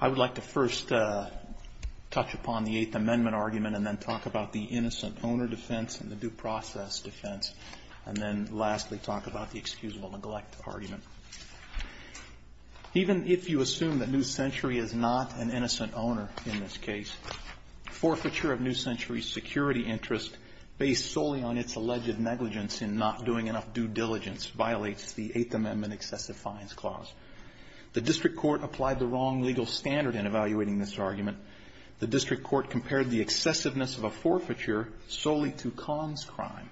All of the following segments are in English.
I would like to first touch upon the 8th Amendment argument and then talk about the innocent owner defense and the due process defense, and then lastly talk about the excusable neglect argument. Even if you assume that New Century is not an innocent owner in this case, forfeiture of New Century's security interest based solely on its alleged negligence in not doing enough due diligence violates the 8th Amendment excessive fines clause. The district court applied the wrong legal standard in evaluating this argument. The district court compared the excessiveness of a forfeiture solely to conscrime.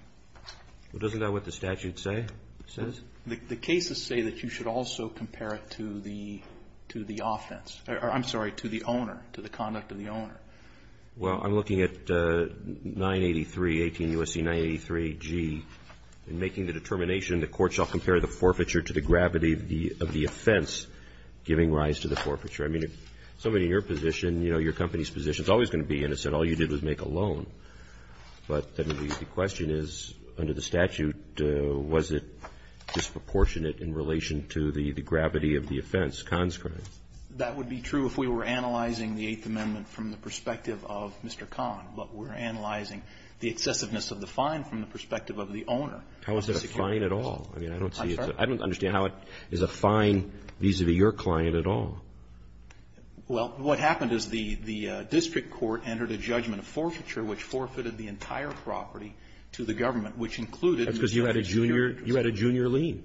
Well, isn't that what the statute say, says? The cases say that you should also compare it to the offense or, I'm sorry, to the owner, to the conduct of the owner. Well, I'm looking at 983, 18 U.S.C. 983G, in making the determination the court shall compare the forfeiture to the gravity of the offense giving rise to the forfeiture. I mean, if somebody in your position, you know, your company's position, is always going to be innocent, all you did was make a loan. But the question is, under the statute, was it disproportionate in relation to the gravity of the offense, conscrime? That would be true if we were analyzing the 8th Amendment from the perspective of Mr. Kahn, but we're analyzing the excessiveness of the fine from the perspective of the owner. How is it a fine at all? I mean, I don't see it. I'm sorry? I don't understand how it is a fine vis-a-vis your client at all. Well, what happened is the district court entered a judgment of forfeiture, which forfeited the entire property to the government, which included Mr. Kahn's junior. You had a junior lien.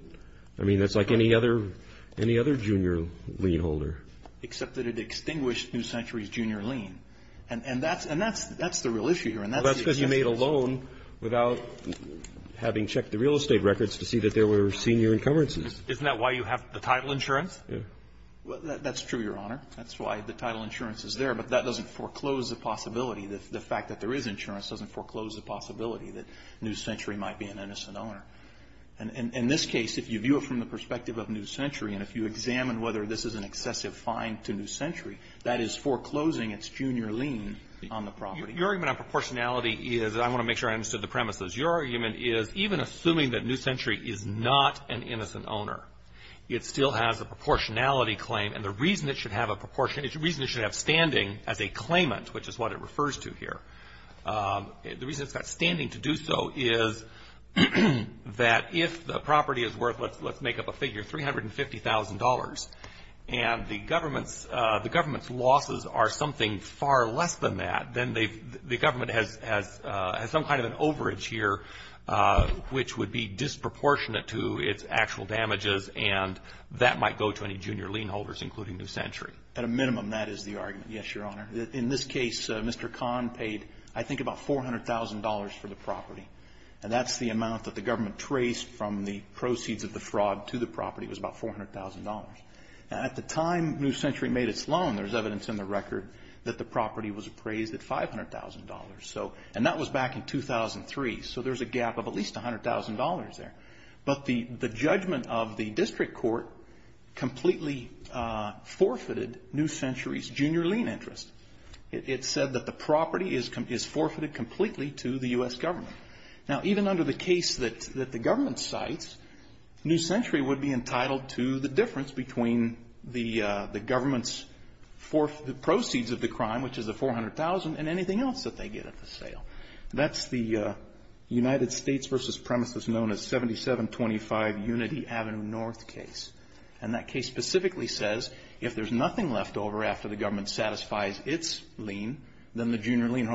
I mean, that's like any other junior lien holder. Except that it extinguished New Century's junior lien. And that's the real issue here. And that's the excessiveness. Well, that's because you made a loan without having checked the real estate records to see that there were senior encumbrances. Isn't that why you have the title insurance? Yeah. Well, that's true, Your Honor. That's why the title insurance is there. But that doesn't foreclose the possibility, the fact that there is insurance doesn't foreclose the possibility that New Century might be an innocent owner. And in this case, if you view it from the perspective of New Century, and if you examine whether this is an excessive fine to New Century, that is foreclosing its junior lien on the property. Your argument on proportionality is, I want to make sure I understood the premises. Your argument is, even assuming that New Century is not an innocent owner, it still has a proportionality claim. And the reason it should have standing as a claimant, which is what it refers to here, the reason it's got standing to do so is that if the property is worth, let's make up a figure, $350,000, and the government's losses are something far less than that, then the government has some kind of an overage here which would be disproportionate to its actual damages, and that might go to any junior lien holders, including New Century. At a minimum, that is the argument, yes, Your Honor. In this case, Mr. Kahn paid, I think, about $400,000 for the property. And that's the amount that the government traced from the proceeds of the fraud to the property was about $400,000. At the time New Century made its loan, there's evidence in the record that the property was appraised at $500,000. So, and that was back in 2003. So, there's a gap of at least $100,000 there. But the judgment of the district court completely forfeited New Century's junior lien interest. It said that the property is forfeited completely to the U.S. government. Now, even under the case that the government cites, New Century would be entitled to the difference between the government's proceeds of the crime, which is the $400,000, and anything else that they get at the sale. That's the United States versus premises known as 7725 Unity Avenue North case. And that case specifically says, if there's nothing left over after the government satisfies its lien, then the junior lien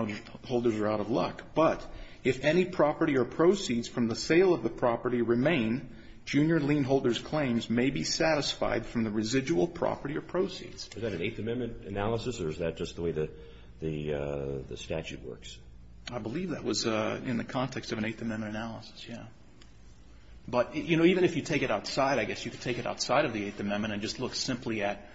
holders are out of luck. But if any property or proceeds from the sale of the property remain, junior lien holders' claims may be satisfied from the residual property or proceeds. Is that an Eighth Amendment analysis, or is that just the way the statute works? I believe that was in the context of an Eighth Amendment analysis, yeah. But, you know, even if you take it outside, I guess you could take it outside of the Eighth Amendment and just look simply at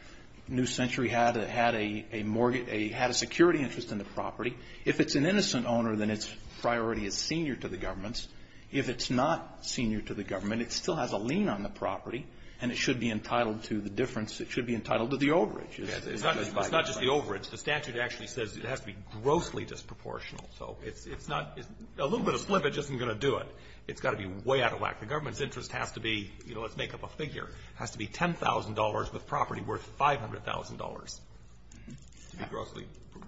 New Century had a security interest in the property. If it's an innocent owner, then its priority is senior to the government's. If it's not senior to the government, it still has a lien on the property, and it should be entitled to the difference. It's not just the overage. The statute actually says it has to be grossly disproportional. So it's not — a little bit of slippage isn't going to do it. It's got to be way out of whack. The government's interest has to be — you know, let's make up a figure. It has to be $10,000 with property worth $500,000 to be grossly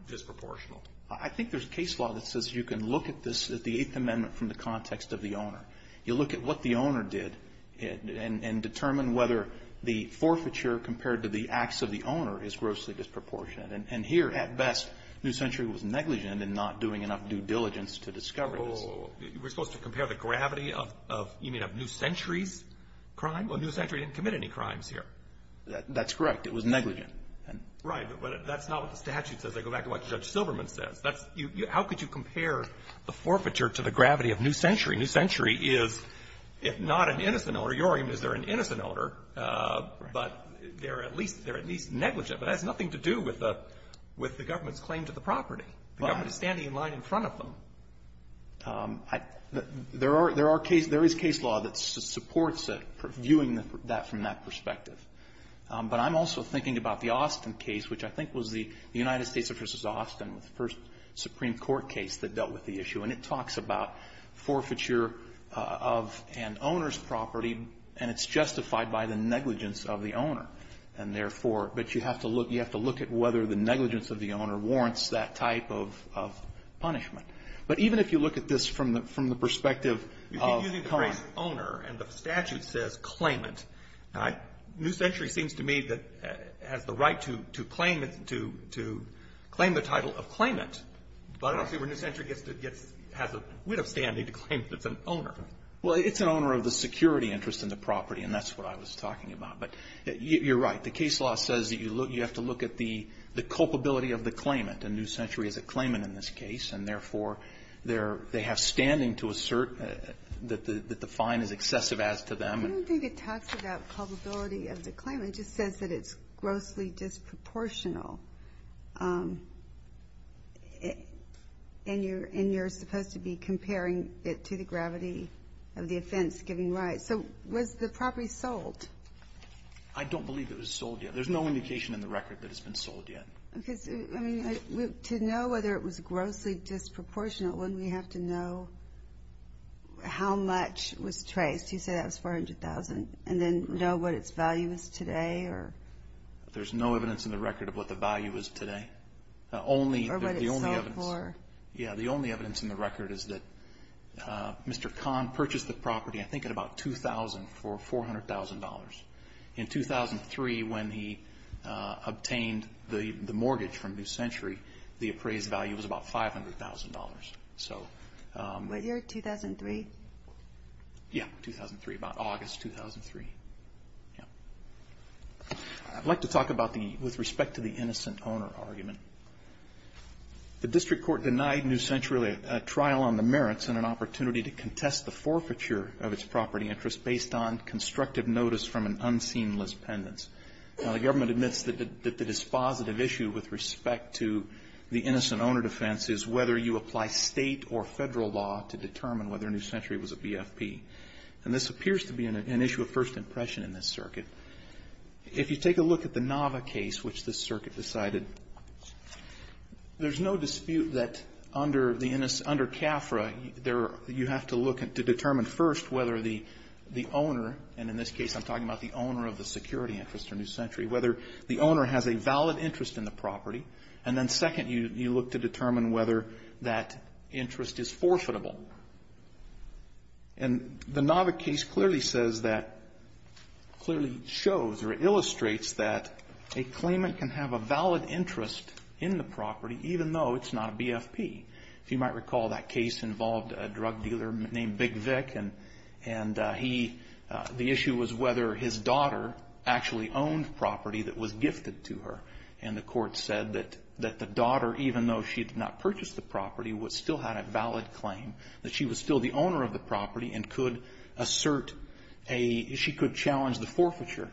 disproportional. I think there's a case law that says you can look at this — at the Eighth Amendment from the context of the owner. You look at what the owner did and determine whether the forfeiture compared to the acts of the owner is grossly disproportionate. And here, at best, New Century was negligent in not doing enough due diligence to discover this. Oh, we're supposed to compare the gravity of — you mean of New Century's crime? Well, New Century didn't commit any crimes here. That's correct. It was negligent. Right. But that's not what the statute says. I go back to what Judge Silverman says. That's — how could you compare the forfeiture to the gravity of New Century? New Century is, if not an innocent owner — your argument is they're an innocent innocent owner, but they're at least — they're at least negligent. But that has nothing to do with the — with the government's claim to the property. The government is standing in line in front of them. I — there are — there are case — there is case law that supports viewing that from that perspective. But I'm also thinking about the Austin case, which I think was the United States v. Austin, the first Supreme Court case that dealt with the issue. And it talks about forfeiture of an owner's property. And it's justified by the negligence of the owner. And therefore — but you have to look — you have to look at whether the negligence of the owner warrants that type of — of punishment. But even if you look at this from the — from the perspective of — You keep using the phrase owner, and the statute says claimant. New Century seems to me that — has the right to — to claim it — to — to claim the title of claimant. But I see where New Century gets to — gets — has a wit of standing to claim that it's an owner. Well, it's an owner of the security interest in the property. And that's what I was talking about. But you're right. The case law says that you look — you have to look at the — the culpability of the claimant. And New Century is a claimant in this case. And therefore, they're — they have standing to assert that the — that the fine is excessive as to them. I don't think it talks about culpability of the claimant. It just says that it's grossly disproportional. And you're — and you're supposed to be comparing it to the gravity of the offense giving rise. So was the property sold? I don't believe it was sold yet. There's no indication in the record that it's been sold yet. Because, I mean, to know whether it was grossly disproportional, wouldn't we have to know how much was traced? You said that was $400,000. And then know what its value is today, or — There's no evidence in the record of what the value is today. Or what it's sold for. Yeah. The only evidence in the record is that Mr. Kahn purchased the property, I think, at about $2,000 for $400,000. In 2003, when he obtained the — the mortgage from New Century, the appraised value was about $500,000. So — What year? 2003? Yeah. 2003. About August 2003. Yeah. I'd like to talk about the — with respect to the innocent owner argument. The district court denied New Century a trial on the merits and an opportunity to contest the forfeiture of its property interest based on constructive notice from an unseamless pendants. Now, the government admits that the dispositive issue with respect to the innocent owner defense is whether you apply State or Federal law to determine whether New Century was a BFP. And this appears to be an issue of first impression in this circuit. If you take a look at the Nava case, which this circuit decided, there's no dispute that under the — under CAFRA, there — you have to look at — to determine, first, whether the owner — and in this case, I'm talking about the owner of the security interest or New Century — whether the owner has a valid interest in the property. And then, second, you look to determine whether that interest is forfeitable. And the Nava case clearly says that — clearly shows or illustrates that a claimant can have a valid interest in the property even though it's not a BFP. If you might recall, that case involved a drug dealer named Big Vic, and he — the issue was whether his daughter actually owned property that was gifted to her. And the court said that the daughter, even though she did not purchase the property, that she was still the owner of the property and could assert a — she could challenge the forfeiture.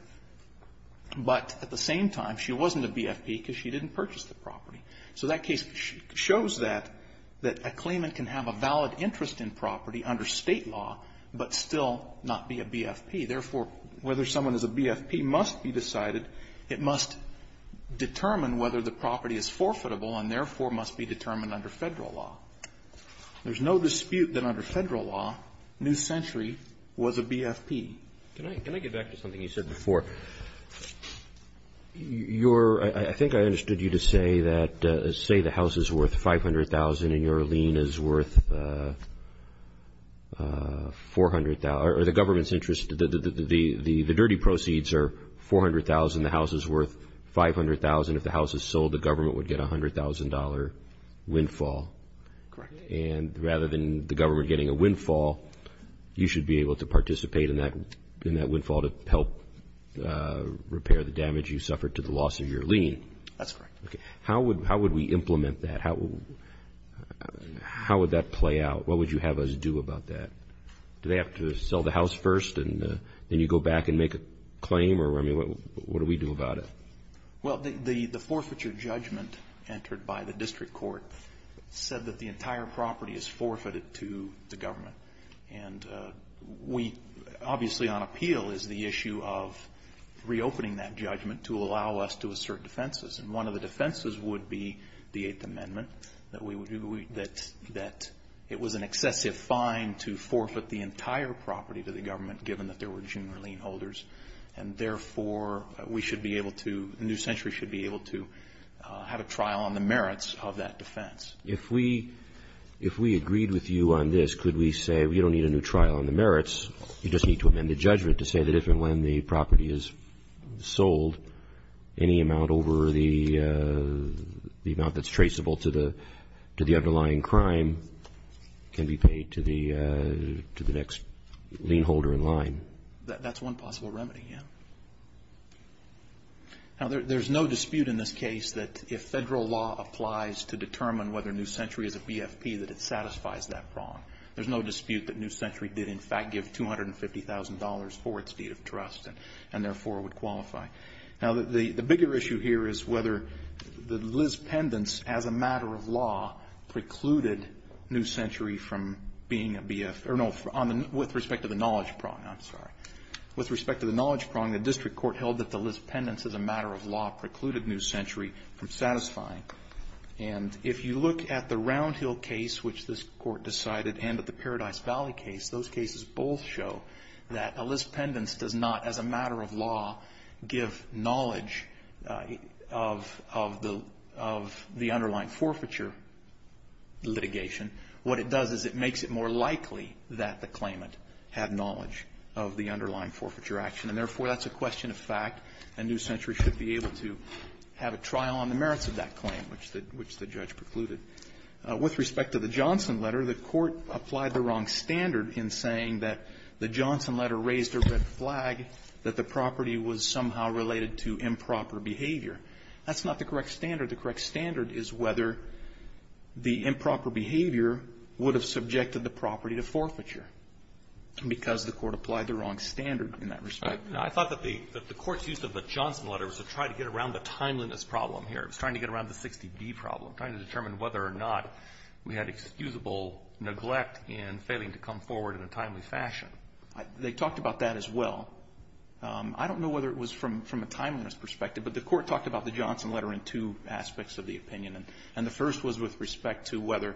But at the same time, she wasn't a BFP because she didn't purchase the property. So that case shows that — that a claimant can have a valid interest in property under State law but still not be a BFP. Therefore, whether someone is a BFP must be decided. It must determine whether the property is forfeitable and, therefore, must be determined under Federal law. There's no dispute that under Federal law, New Century was a BFP. Can I — can I get back to something you said before? Your — I think I understood you to say that — say the house is worth $500,000 and your lien is worth $400 — or the government's interest — the dirty proceeds are $400,000, the house is worth $500,000. If the house is sold, the government would get $100,000 windfall. Correct. And rather than the government getting a windfall, you should be able to participate in that — in that windfall to help repair the damage you suffered to the loss of your lien. That's correct. Okay. How would — how would we implement that? How would that play out? What would you have us do about that? Do they have to sell the house first and then you go back and make a claim? Or, I mean, what do we do about it? Well, the forfeiture judgment entered by the district court said that the entire property is forfeited to the government. And we — obviously on appeal is the issue of reopening that judgment to allow us to assert defenses. And one of the defenses would be the Eighth Amendment, that we would — that it was an excessive fine to forfeit the entire property to the government, given that there were junior lien holders. And therefore, we should be able to — New Century should be able to have a trial on the merits of that defense. If we — if we agreed with you on this, could we say we don't need a new trial on the merits? You just need to amend the judgment to say that if and when the property is sold, any amount over the — the amount that's traceable to the — to the underlying crime can be paid to the — to the next lien holder in line. That's one possible remedy, yeah. Now, there's no dispute in this case that if federal law applies to determine whether New Century is a BFP, that it satisfies that prong. There's no dispute that New Century did, in fact, give $250,000 for its deed of trust and therefore would qualify. Now, the bigger issue here is whether Liz Pendence, as a matter of law, precluded New Century from being a BF — or no, with respect to the knowledge prong. I'm sorry. With respect to the knowledge prong, the district court held that the Liz Pendence, as a matter of law, precluded New Century from satisfying. And if you look at the Round Hill case, which this Court decided, and at the Paradise Valley case, those cases both show that a Liz Pendence does not, as a matter of law, give knowledge of — of the — of the underlying forfeiture litigation. What it does is it makes it more likely that the claimant had knowledge. Of the underlying forfeiture action. And therefore, that's a question of fact, and New Century should be able to have a trial on the merits of that claim, which the — which the judge precluded. With respect to the Johnson letter, the Court applied the wrong standard in saying that the Johnson letter raised a red flag, that the property was somehow related to improper behavior. That's not the correct standard. The correct standard is whether the improper behavior would have subjected the property to forfeiture, because the Court applied the wrong standard in that respect. I thought that the — that the Court's use of the Johnson letter was to try to get around the timeliness problem here. It was trying to get around the 60B problem, trying to determine whether or not we had excusable neglect in failing to come forward in a timely fashion. They talked about that as well. I don't know whether it was from — from a timeliness perspective, but the Court talked about the Johnson letter in two aspects of the opinion. And the first was with respect to whether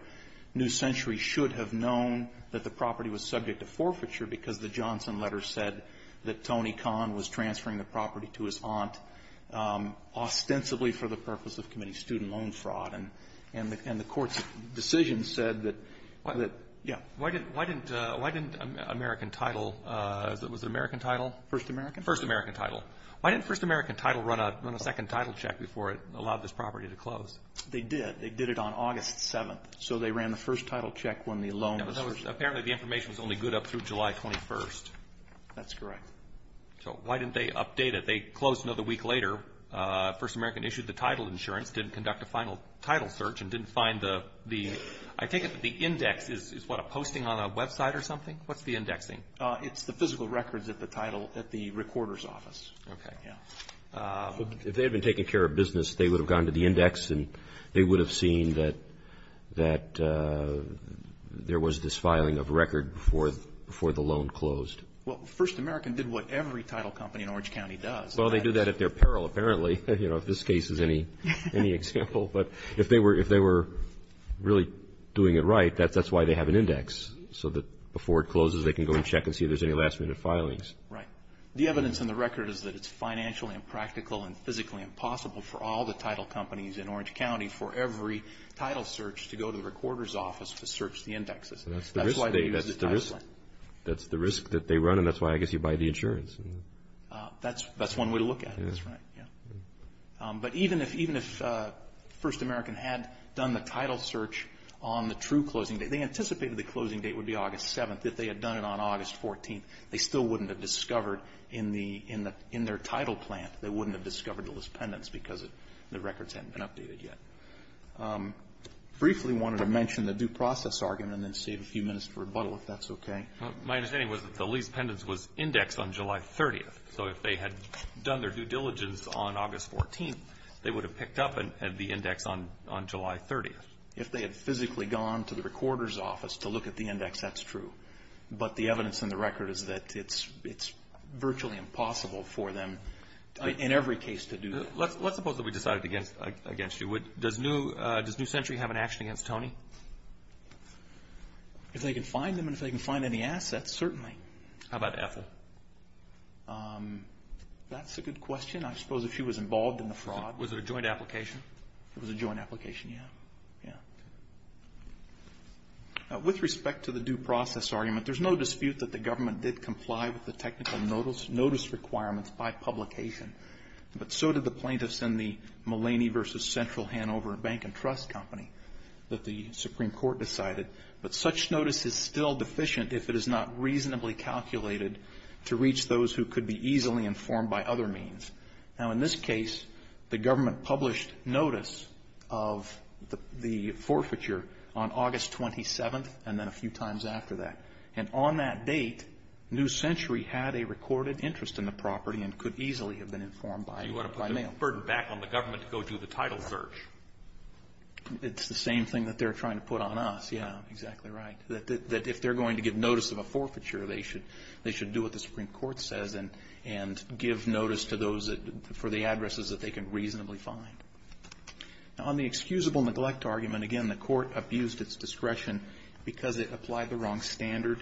New Century should have known that the property was subject to forfeiture because the Johnson letter said that Tony Kahn was transferring the property to his aunt ostensibly for the purpose of committee student loan fraud. And the Court's decision said that — that — yeah. Why didn't — why didn't — why didn't American Title — was it American Title? First American? First American Title. Why didn't First American Title run a — run a second title check before it allowed this property to close? They did. They did it on August 7th. So they ran the first title check when the loan was — But that was — apparently the information was only good up through July 21st. That's correct. So why didn't they update it? They closed another week later. First American issued the title insurance, didn't conduct a final title search, and didn't find the — the — I take it that the index is — is what, a posting on a website or something? What's the indexing? It's the physical records at the title — at the recorder's office. Okay. Yeah. If they had been taking care of business, they would have gone to the index and would have seen that — that there was this filing of record before — before the loan closed. Well, First American did what every title company in Orange County does. Well, they do that at their peril, apparently. You know, if this case is any — any example. But if they were — if they were really doing it right, that's — that's why they have an index, so that before it closes, they can go and check and see if there's any last-minute filings. Right. The evidence in the record is that it's financially impractical and physically impossible for all the title companies in Orange County, for every title search, to go to the recorder's office to search the indexes. So that's the risk they — that's the risk — that's the risk that they run, and that's why, I guess, you buy the insurance. That's — that's one way to look at it. That's right. Yeah. But even if — even if First American had done the title search on the true closing date — they anticipated the closing date would be August 7th. If they had done it on August 14th, they still wouldn't have discovered in the — in their title plant, they wouldn't have discovered the leased pendants because the records hadn't been updated yet. Briefly wanted to mention the due process argument, and then save a few minutes for rebuttal, if that's okay. My understanding was that the leased pendants was indexed on July 30th. So if they had done their due diligence on August 14th, they would have picked up the index on — on July 30th. If they had physically gone to the recorder's office to look at the index, that's true. But the evidence in the record is that it's — it's virtually impossible for them, in every case, to do that. Let's — let's suppose that we decided against — against you. Would — does New — does New Century have an action against Tony? If they can find them and if they can find any assets, certainly. How about Ethel? That's a good question. I suppose if she was involved in the fraud. Was it a joint application? It was a joint application, yeah. Yeah. Okay. With respect to the due process argument, there's no dispute that the government did comply with the technical notice — notice requirements by publication. But so did the plaintiffs in the Mulaney v. Central Hanover Bank and Trust Company that the Supreme Court decided. But such notice is still deficient if it is not reasonably calculated to reach those who could be easily informed by other means. Now, in this case, the government published notice of the forfeiture on August 27th and then a few times after that. And on that date, New Century had a recorded interest in the property and could easily have been informed by — You want to put the burden back on the government to go do the title search. It's the same thing that they're trying to put on us, yeah. Exactly right. That if they're going to give notice of a forfeiture, they should — they should do what the Supreme Court says and give notice to those for the addresses that they can reasonably find. Now, on the excusable neglect argument, again, the Court abused its discretion because it applied the wrong standard.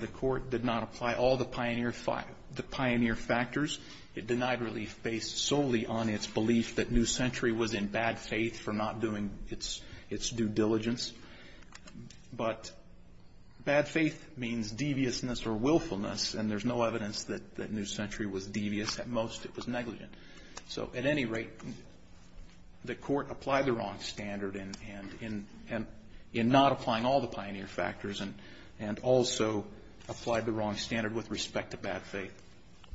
The Court did not apply all the pioneer factors. It denied relief based solely on its belief that New Century was in bad faith for not doing its due diligence. But bad faith means deviousness or willfulness, and there's no evidence that New Century was devious at most. It was negligent. So at any rate, the Court applied the wrong standard in not applying all the pioneer factors and also applied the wrong standard with respect to bad faith.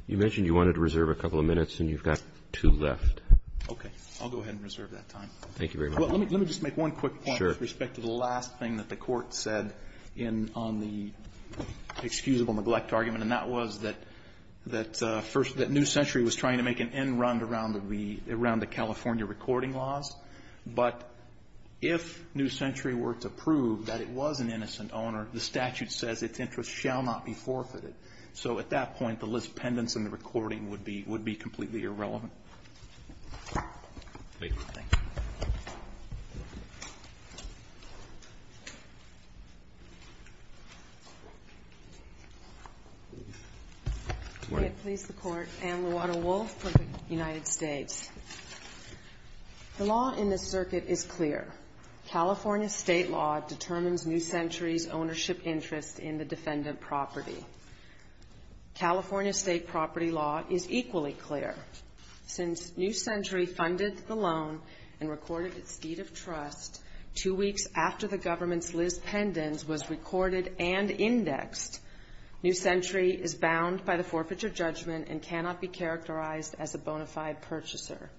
You mentioned you wanted to reserve a couple of minutes, and you've got two left. Okay. I'll go ahead and reserve that time. Thank you very much. Let me just make one quick point with respect to the last thing that the Court said in — on the excusable neglect argument, and that was that — that New Century was trying to make an end-run around the — around the California recording laws. But if New Century were to prove that it was an innocent owner, the statute says its interests shall not be forfeited. So at that point, the list pendants and the recording would be — would be completely irrelevant. Thank you. Can I please the Court? Ann Luotto-Wolf for the United States. The law in this circuit is clear. California state law determines New Century's ownership interest in the defendant property. California state property law is equally clear. Since New Century funded the loan and recorded its deed of trust two weeks after the government's list pendants was recorded and indexed, New Century is bound by the forfeiture judgment and cannot be characterized as a bona fide purchaser.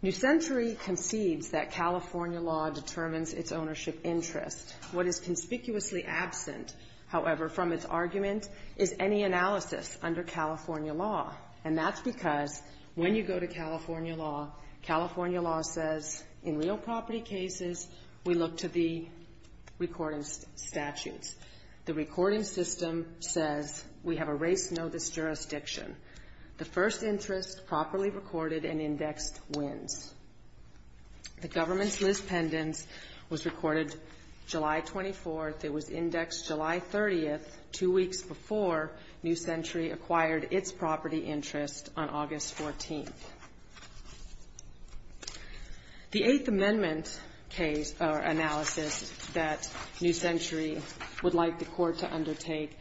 New Century concedes that California law determines its ownership interest. What is conspicuously absent, however, from its argument is any analysis under California law. And that's because when you go to California law, California law says in real property cases, we look to the recording statutes. The recording system says we have a race notice jurisdiction. The first interest properly recorded and indexed wins. The government's list pendants was recorded July 24th. It was indexed July 30th, two weeks before New Century acquired its property interest on August 14th. The Eighth Amendment case or analysis that New Century would like the Court to undertake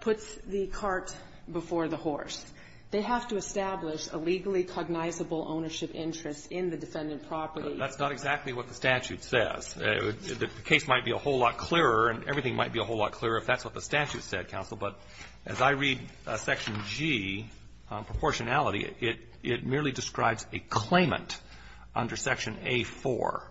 puts the cart before the horse. They have to establish a legally cognizable ownership interest in the defendant property. That's not exactly what the statute says. The case might be a whole lot clearer and everything might be a whole lot clearer if that's what the statute said, counsel. But as I read Section G, proportionality, it merely describes a claimant under Section A-4.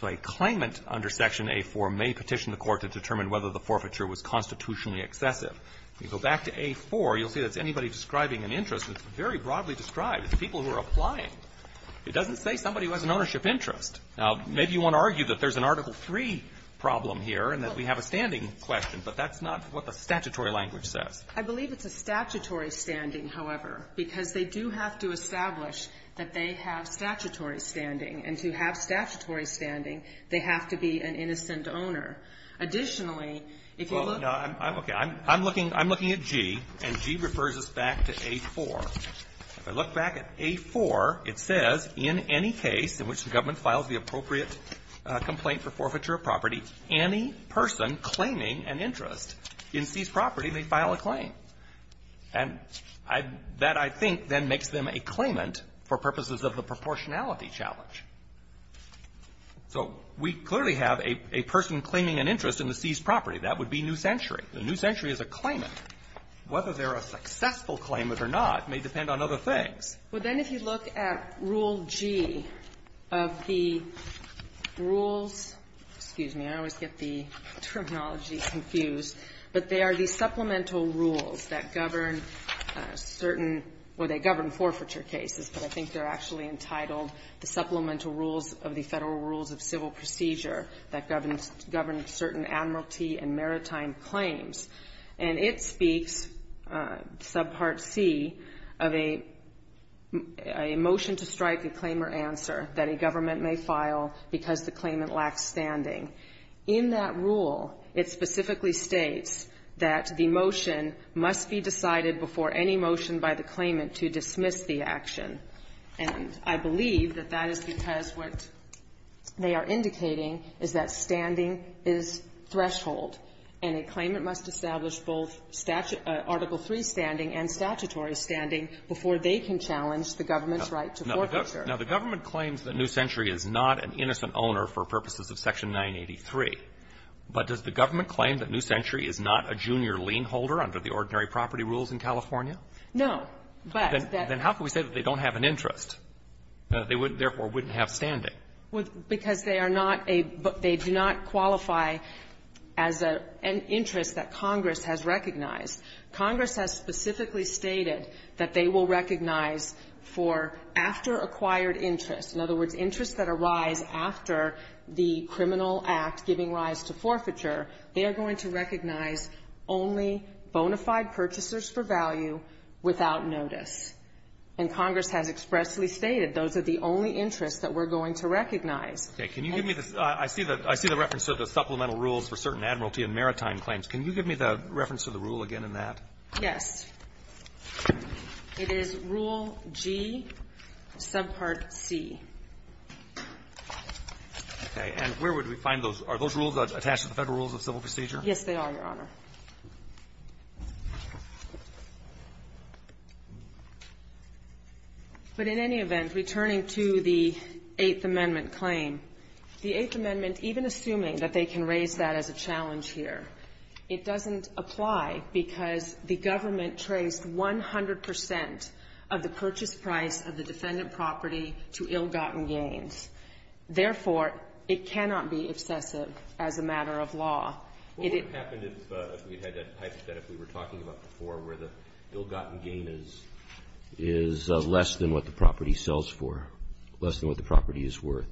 So a claimant under Section A-4 may petition the Court to determine whether the forfeiture was constitutionally excessive. If you go back to A-4, you'll see that's anybody describing an interest that's very broadly described. It's people who are applying. It doesn't say somebody who has an ownership interest. Now, maybe you want to argue that there's an Article III problem here and that we have a standing question. But that's not what the statutory language says. I believe it's a statutory standing, however, because they do have to establish that they have statutory standing. And to have statutory standing, they have to be an innocent owner. Additionally, if you look at the other case, I'm looking at G, and G refers us back to A-4. If I look back at A-4, it says, in any case in which the government files the appropriate complaint for forfeiture of property, any person claiming an interest in seized property may file a claim. And that, I think, then makes them a claimant for purposes of the proportionality challenge. So we clearly have a person claiming an interest in the seized property. That would be New Century. The New Century is a claimant. Whether they're a successful claimant or not may depend on other things. Well, then, if you look at Rule G of the rules, excuse me, I always get the terminology confused. But they are the supplemental rules that govern certain or they govern forfeiture cases. But I think they're actually entitled the supplemental rules of the Federal Rules of Civil Procedure that govern certain Admiralty and Maritime claims. And it speaks, subpart C, of a motion to strike a claim or answer that a government may file because the claimant lacks standing. In that rule, it specifically states that the motion must be decided before any motion by the claimant to dismiss the action. And I believe that that is because what they are indicating is that standing is threshold and a claimant must establish both Article III standing and statutory standing before they can challenge the government's right to forfeiture. Now, the government claims that New Century is not an innocent owner for purposes of Section 983. But does the government claim that New Century is not a junior lien holder under the ordinary property rules in California? No. Then how can we say that they don't have an interest? Therefore, wouldn't have standing? Because they are not a they do not qualify as an interest that Congress has recognized. Congress has specifically stated that they will recognize for after acquired interest, in other words, interests that arise after the criminal act giving rise to forfeiture, they are going to recognize only bona fide purchasers for value without notice. And Congress has expressly stated those are the only interests that we're going to recognize. Okay. Can you give me the I see the I see the reference to the supplemental rules for certain admiralty and maritime claims. Can you give me the reference to the rule again in that? Yes. It is Rule G, subpart C. Okay. And where would we find those? Are those rules attached to the Federal Rules of Civil Procedure? Yes, they are, Your Honor. But in any event, returning to the Eighth Amendment claim, the Eighth Amendment, even assuming that they can raise that as a challenge here, it doesn't apply because the government traced 100 percent of the purchase price of the defendant property to ill-gotten gains. Therefore, it cannot be obsessive as a matter of law. What would have happened if we had that type of debt if we were talking about before where the ill-gotten gain is less than what the property sells for, less than what the property is worth?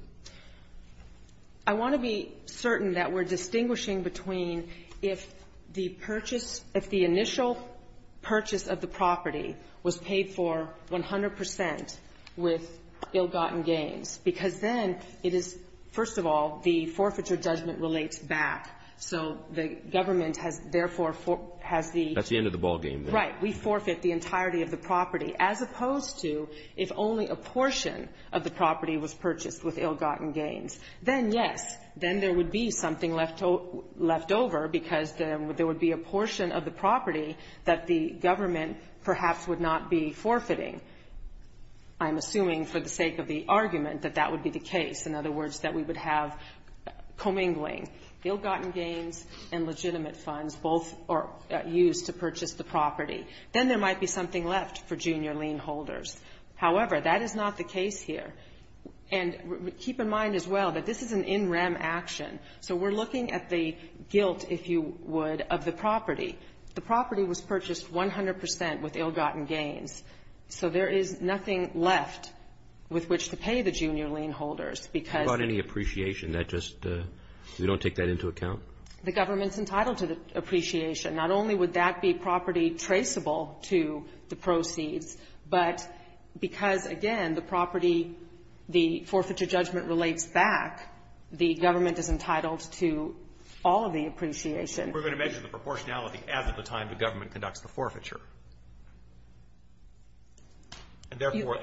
I want to be certain that we're distinguishing between if the purchase, if the initial purchase of the property was paid for 100 percent with ill-gotten gains, because then it is, first of all, the forfeiture judgment relates back. So the government has therefore has the That's the end of the ballgame. Right. We forfeit the entirety of the property, as opposed to if only a portion of the property was purchased with ill-gotten gains. Then, yes, then there would be something left over because there would be a portion of the property that the government perhaps would not be forfeiting. I'm assuming for the sake of the argument that that would be the case. In other words, that we would have commingling. Ill-gotten gains and legitimate funds both are used to purchase the property. Then there might be something left for junior lien holders. However, that is not the case here. And keep in mind as well that this is an in rem action. So we're looking at the guilt, if you would, of the property. The property was purchased 100 percent with ill-gotten gains. So there is nothing left with which to pay the junior lien holders because Without any appreciation, that just, we don't take that into account? The government's entitled to the appreciation. Not only would that be property traceable to the proceeds, but because, again, the property, the forfeiture judgment relates back, the government is entitled to all of the appreciation. We're going to measure the proportionality as at the time the government conducts the forfeiture. And therefore,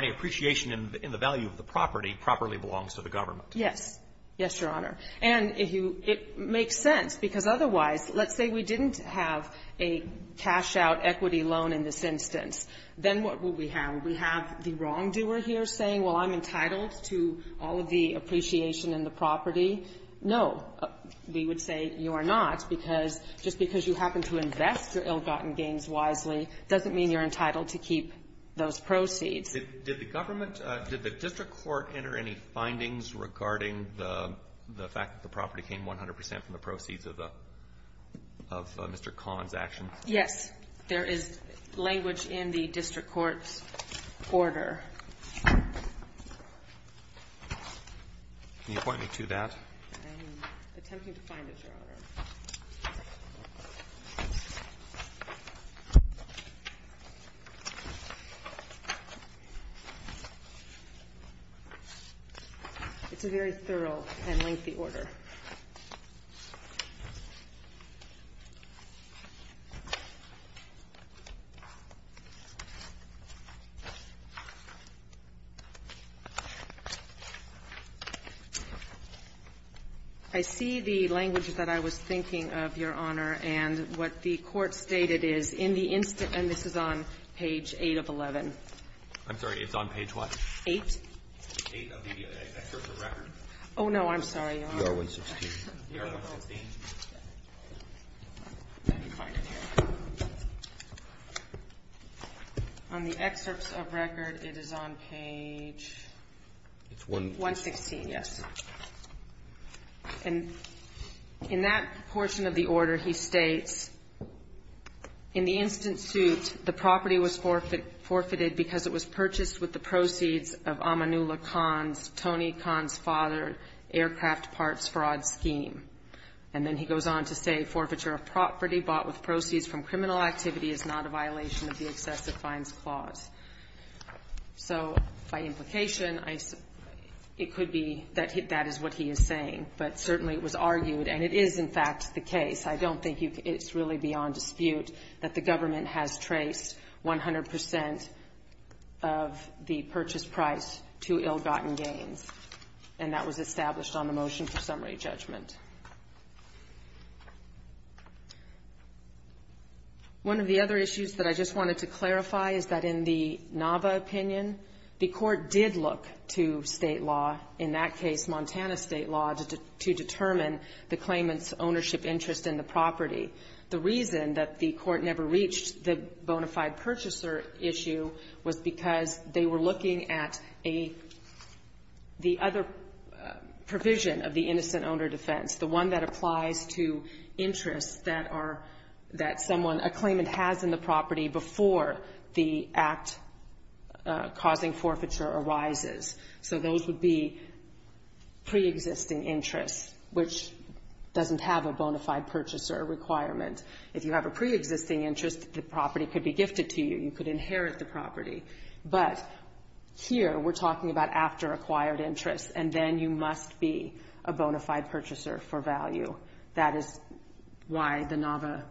any appreciation in the value of the property properly belongs to the government. Yes. Yes, Your Honor. And if you, it makes sense, because otherwise, let's say we didn't have a cash-out equity loan in this instance. Then what would we have? We have the wrongdoer here saying, well, I'm entitled to all of the appreciation in the property. No, we would say you are not, because just because you happen to invest your ill-gotten gains wisely doesn't mean you're entitled to keep those proceeds. Did the government, did the district court enter any findings regarding the fact that the property came 100 percent from the proceeds of Mr. Kahn's actions? Yes. There is language in the district court's order. Can you point me to that? I'm attempting to find it, Your Honor. It's a very thorough and lengthy order. I see the language that I was thinking of, Your Honor. And what the court stated is, in the instance, and this is on page 8 of 11. I'm sorry. It's on page what? 8. 8 of the district court record. Oh, no. I'm sorry, Your Honor. DR-116. DR-116. Let me find it here. On the excerpts of record, it is on page 116, yes. And in that portion of the order, he states, in the instant suit, the property was forfeited because it was purchased with the proceeds of Amanullah Kahn's, Tony Kahn's father, aircraft parts fraud scheme. And then he goes on to say, forfeiture of property bought with proceeds from criminal activity is not a violation of the excessive fines clause. So by implication, it could be that that is what he is saying. But certainly it was argued, and it is, in fact, the case. I don't think it's really beyond dispute that the government has traced 100 percent of the purchase price to ill-gotten gains. And that was established on the motion for summary judgment. One of the other issues that I just wanted to clarify is that in the Nava opinion, the court did look to state law, in that case, Montana state law, to determine the claimant's ownership interest in the property. The reason that the court never reached the bona fide purchaser issue was because they were looking at a, the other provision of the innocent owner defense, the one that applies to interests that are, that someone, a claimant has in the property before the act causing forfeiture arises. So those would be preexisting interests, which doesn't have a bona fide purchaser requirement. If you have a preexisting interest, the property could be gifted to you. You could inherit the property. But here, we're talking about after acquired interest, and then you must be a bona fide purchaser for value. That is why the Nava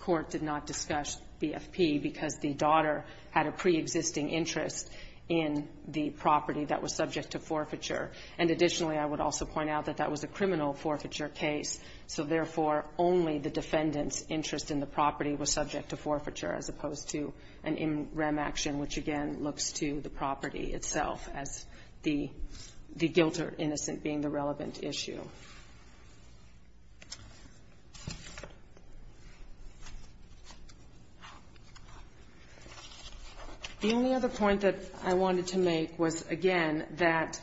court did not discuss BFP, because the daughter had a preexisting interest in the property that was subject to forfeiture. And additionally, I would also point out that that was a criminal forfeiture case. So therefore, only the defendant's interest in the property was subject to forfeiture as opposed to an MREM action, which again, looks to the property itself as the guilt or innocent being the relevant issue. The only other point that I wanted to make was, again, that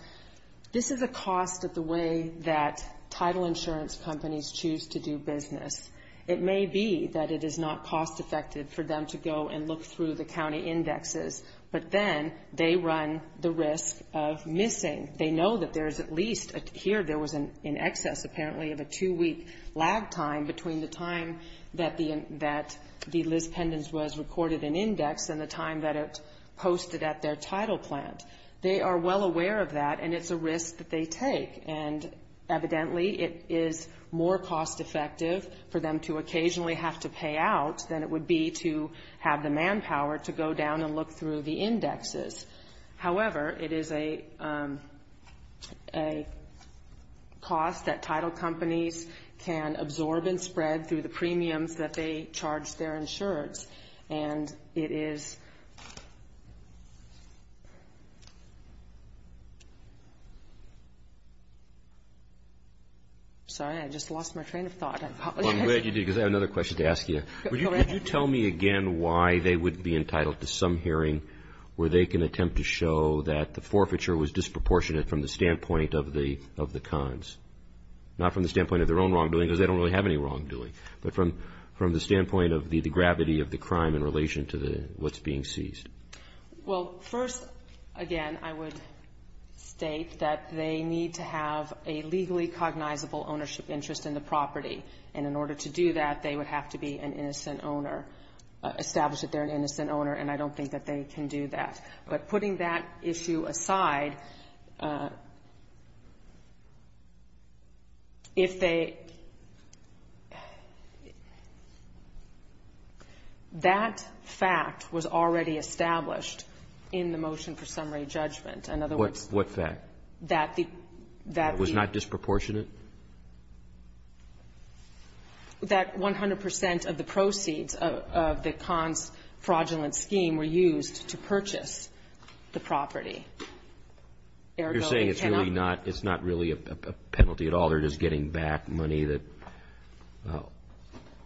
this is a cost of the way that title insurance companies choose to do business. It may be that it is not cost effective for them to go and look through the county indexes, but then they run the risk of missing. They know that there is at least, here there was an excess apparently of a two-week lag time between the time that the Liz Pendens was recorded in index and the time that it posted at their title plant. They are well aware of that, and it's a risk that they take. And evidently, it is more cost effective for them to occasionally have to pay out than it would be to have the manpower to go down and look through the indexes. However, it is a cost that title companies can absorb and spread through the premiums that they charge their insurance. And it is... Sorry, I just lost my train of thought. I'm glad you did, because I have another question to ask you. Could you tell me again why they would be entitled to some hearing where they can attempt to show that the forfeiture was disproportionate from the standpoint of the cons? Not from the standpoint of their own wrongdoing, because they don't really have any wrongdoing, but from the standpoint of the gravity of the crime in relation to what's being seized. Well, first, again, I would state that they need to have a legally cognizable ownership interest in the property. And in order to do that, they would have to be an innocent owner, establish that they're an innocent owner, and I don't think that they can do that. But putting that issue aside, if they... That fact was already established in the motion for summary judgment. In other words... What fact? That the... It was not disproportionate? That 100% of the proceeds of the cons' fraudulent scheme were used to purchase the property. Ergo, they cannot... You're saying it's really not, it's not really a penalty at all. They're just getting back money that...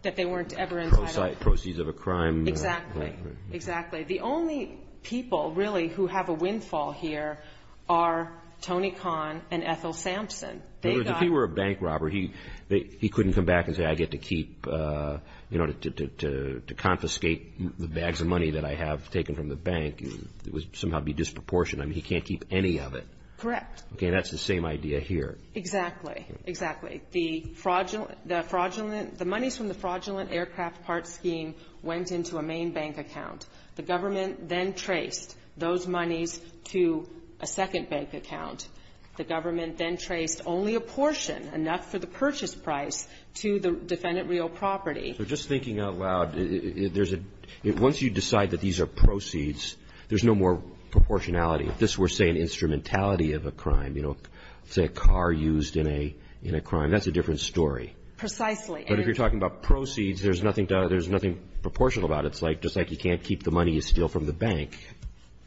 That they weren't ever entitled to. Proceeds of a crime... Exactly. Exactly. The only people, really, who have a windfall here are Tony Kahn and Ethel Sampson. They got... If he were a bank robber, he couldn't come back and say, I get to keep, you know, to confiscate the bags of money that I have taken from the bank. It would somehow be disproportionate. I mean, he can't keep any of it. Correct. Okay. That's the same idea here. Exactly. Exactly. The fraudulent, the fraudulent, the monies from the fraudulent aircraft parts scheme went into a main bank account. The government then traced those monies to a second bank account. The government then traced only a portion, enough for the purchase price, to the defendant real property. So just thinking out loud, there's a — once you decide that these are proceeds, there's no more proportionality. If this were, say, an instrumentality of a crime, you know, say a car used in a — in a crime, that's a different story. Precisely. But if you're talking about proceeds, there's nothing to — there's nothing proportional about it. It's like — just like you can't keep the money you steal from the bank.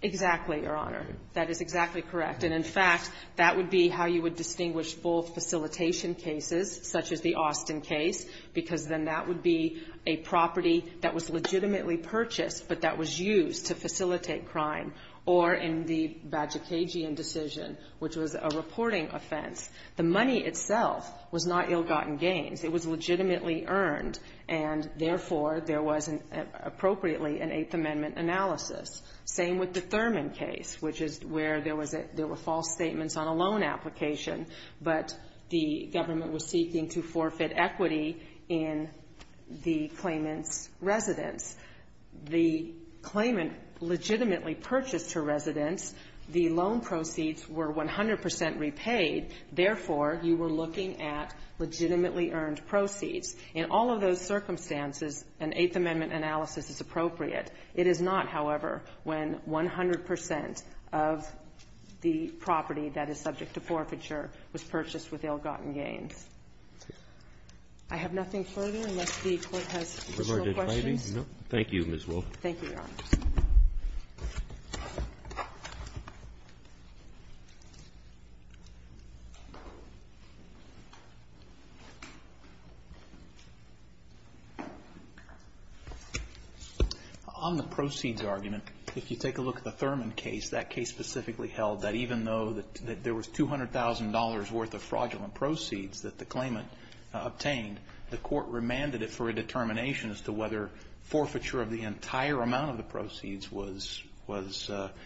Exactly, Your Honor. That is exactly correct. And, in fact, that would be how you would distinguish full facilitation cases, such as the Austin case, because then that would be a property that was legitimately purchased, but that was used to facilitate crime. Or in the Bagicagian decision, which was a reporting offense, the money itself was not ill-gotten gains. It was legitimately earned. And, therefore, there was, appropriately, an Eighth Amendment analysis. Same with the Thurman case, which is where there was a — there were false statements on a loan application, but the government was seeking to forfeit equity in the claimant's residence. The claimant legitimately purchased her residence. The loan proceeds were 100 percent repaid. Therefore, you were looking at legitimately earned proceeds. In all of those circumstances, an Eighth Amendment analysis is appropriate. It is not, however, when 100 percent of the property that is subject to forfeiture was purchased with ill-gotten gains. I have nothing further unless the Court has additional questions. No. Thank you, Ms. Wolf. Thank you, Your Honor. On the proceeds argument, if you take a look at the Thurman case, that case specifically held that even though there was $200,000 worth of fraudulent proceeds that the claimant obtained, the Court remanded it for a determination as to whether forfeiture of the entire amount of the proceeds was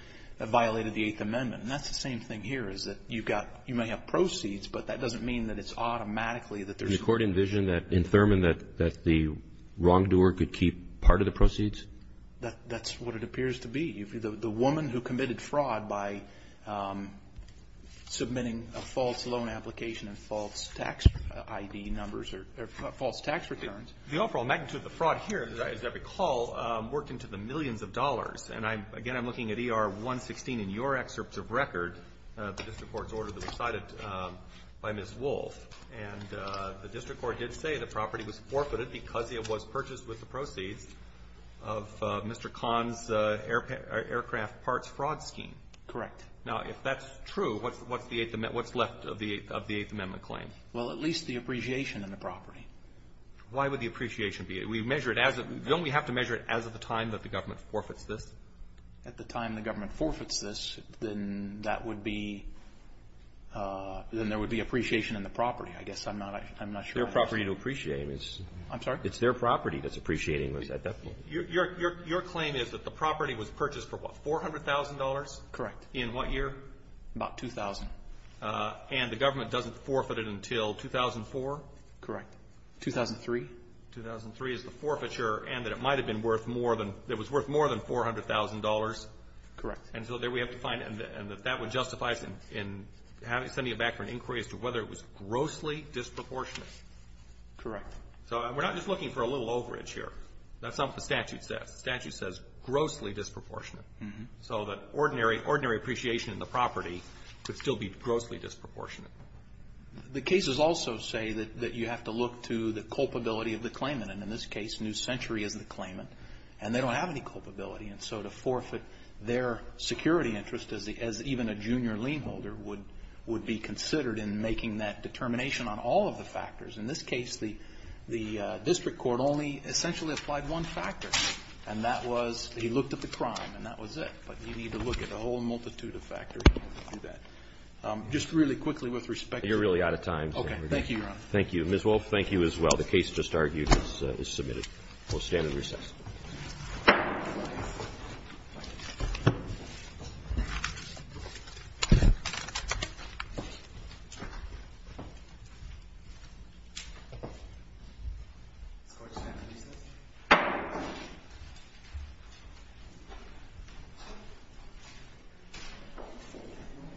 — violated the Eighth Amendment. And that's the same thing here, is that you've got — you may have proceeds, but that doesn't mean that it's automatically that there's — Did the Court envision in Thurman that the wrongdoer could keep part of the proceeds? That's what it appears to be. The woman who committed fraud by submitting a false loan application and false tax ID numbers or false tax returns — The overall magnitude of the fraud here, as I recall, worked into the millions of dollars. And I'm — again, I'm looking at ER 116 in your excerpt of record, the district court's order that was cited by Ms. Wolf. And the district court did say the property was forfeited because it was purchased with the proceeds of Mr. Kahn's aircraft parts fraud scheme. Correct. Now, if that's true, what's the Eighth — what's left of the Eighth Amendment claim? Well, at least the appreciation of the property. Why would the appreciation be? We measure it as a — don't we have to measure it as of the time that the government forfeits this? At the time the government forfeits this, then that would be — then there would be appreciation in the property. I guess I'm not — I'm not sure. Their property to appreciate is — I'm sorry? It's their property that's appreciating. Was that that point? Your — your claim is that the property was purchased for, what, $400,000? Correct. In what year? About 2000. And the government doesn't forfeit it until 2004? Correct. 2003? 2003 is the forfeiture, and that it might have been worth more than — that it was worth more than $400,000? Correct. And so there we have to find — and that that would justify in having — sending it back for an inquiry as to whether it was grossly disproportionate? Correct. So we're not just looking for a little overage here. That's not what the statute says. The statute says grossly disproportionate. Mm-hmm. So that ordinary — ordinary appreciation in the property could still be grossly disproportionate. The cases also say that — that you have to look to the culpability of the claimant. And in this case, New Century is the claimant. And they don't have any culpability. And so to forfeit their security interest as the — as even a junior lien holder would — would be considered in making that determination on all of the factors. In this case, the — the district court only essentially applied one factor. And that was — he looked at the crime, and that was it. But you need to look at a whole multitude of factors to do that. Just really quickly, with respect to — You're really out of time. Thank you, Your Honor. Thank you. Ms. Wolfe, thank you as well. The case just argued is — is submitted. We'll stand and recess.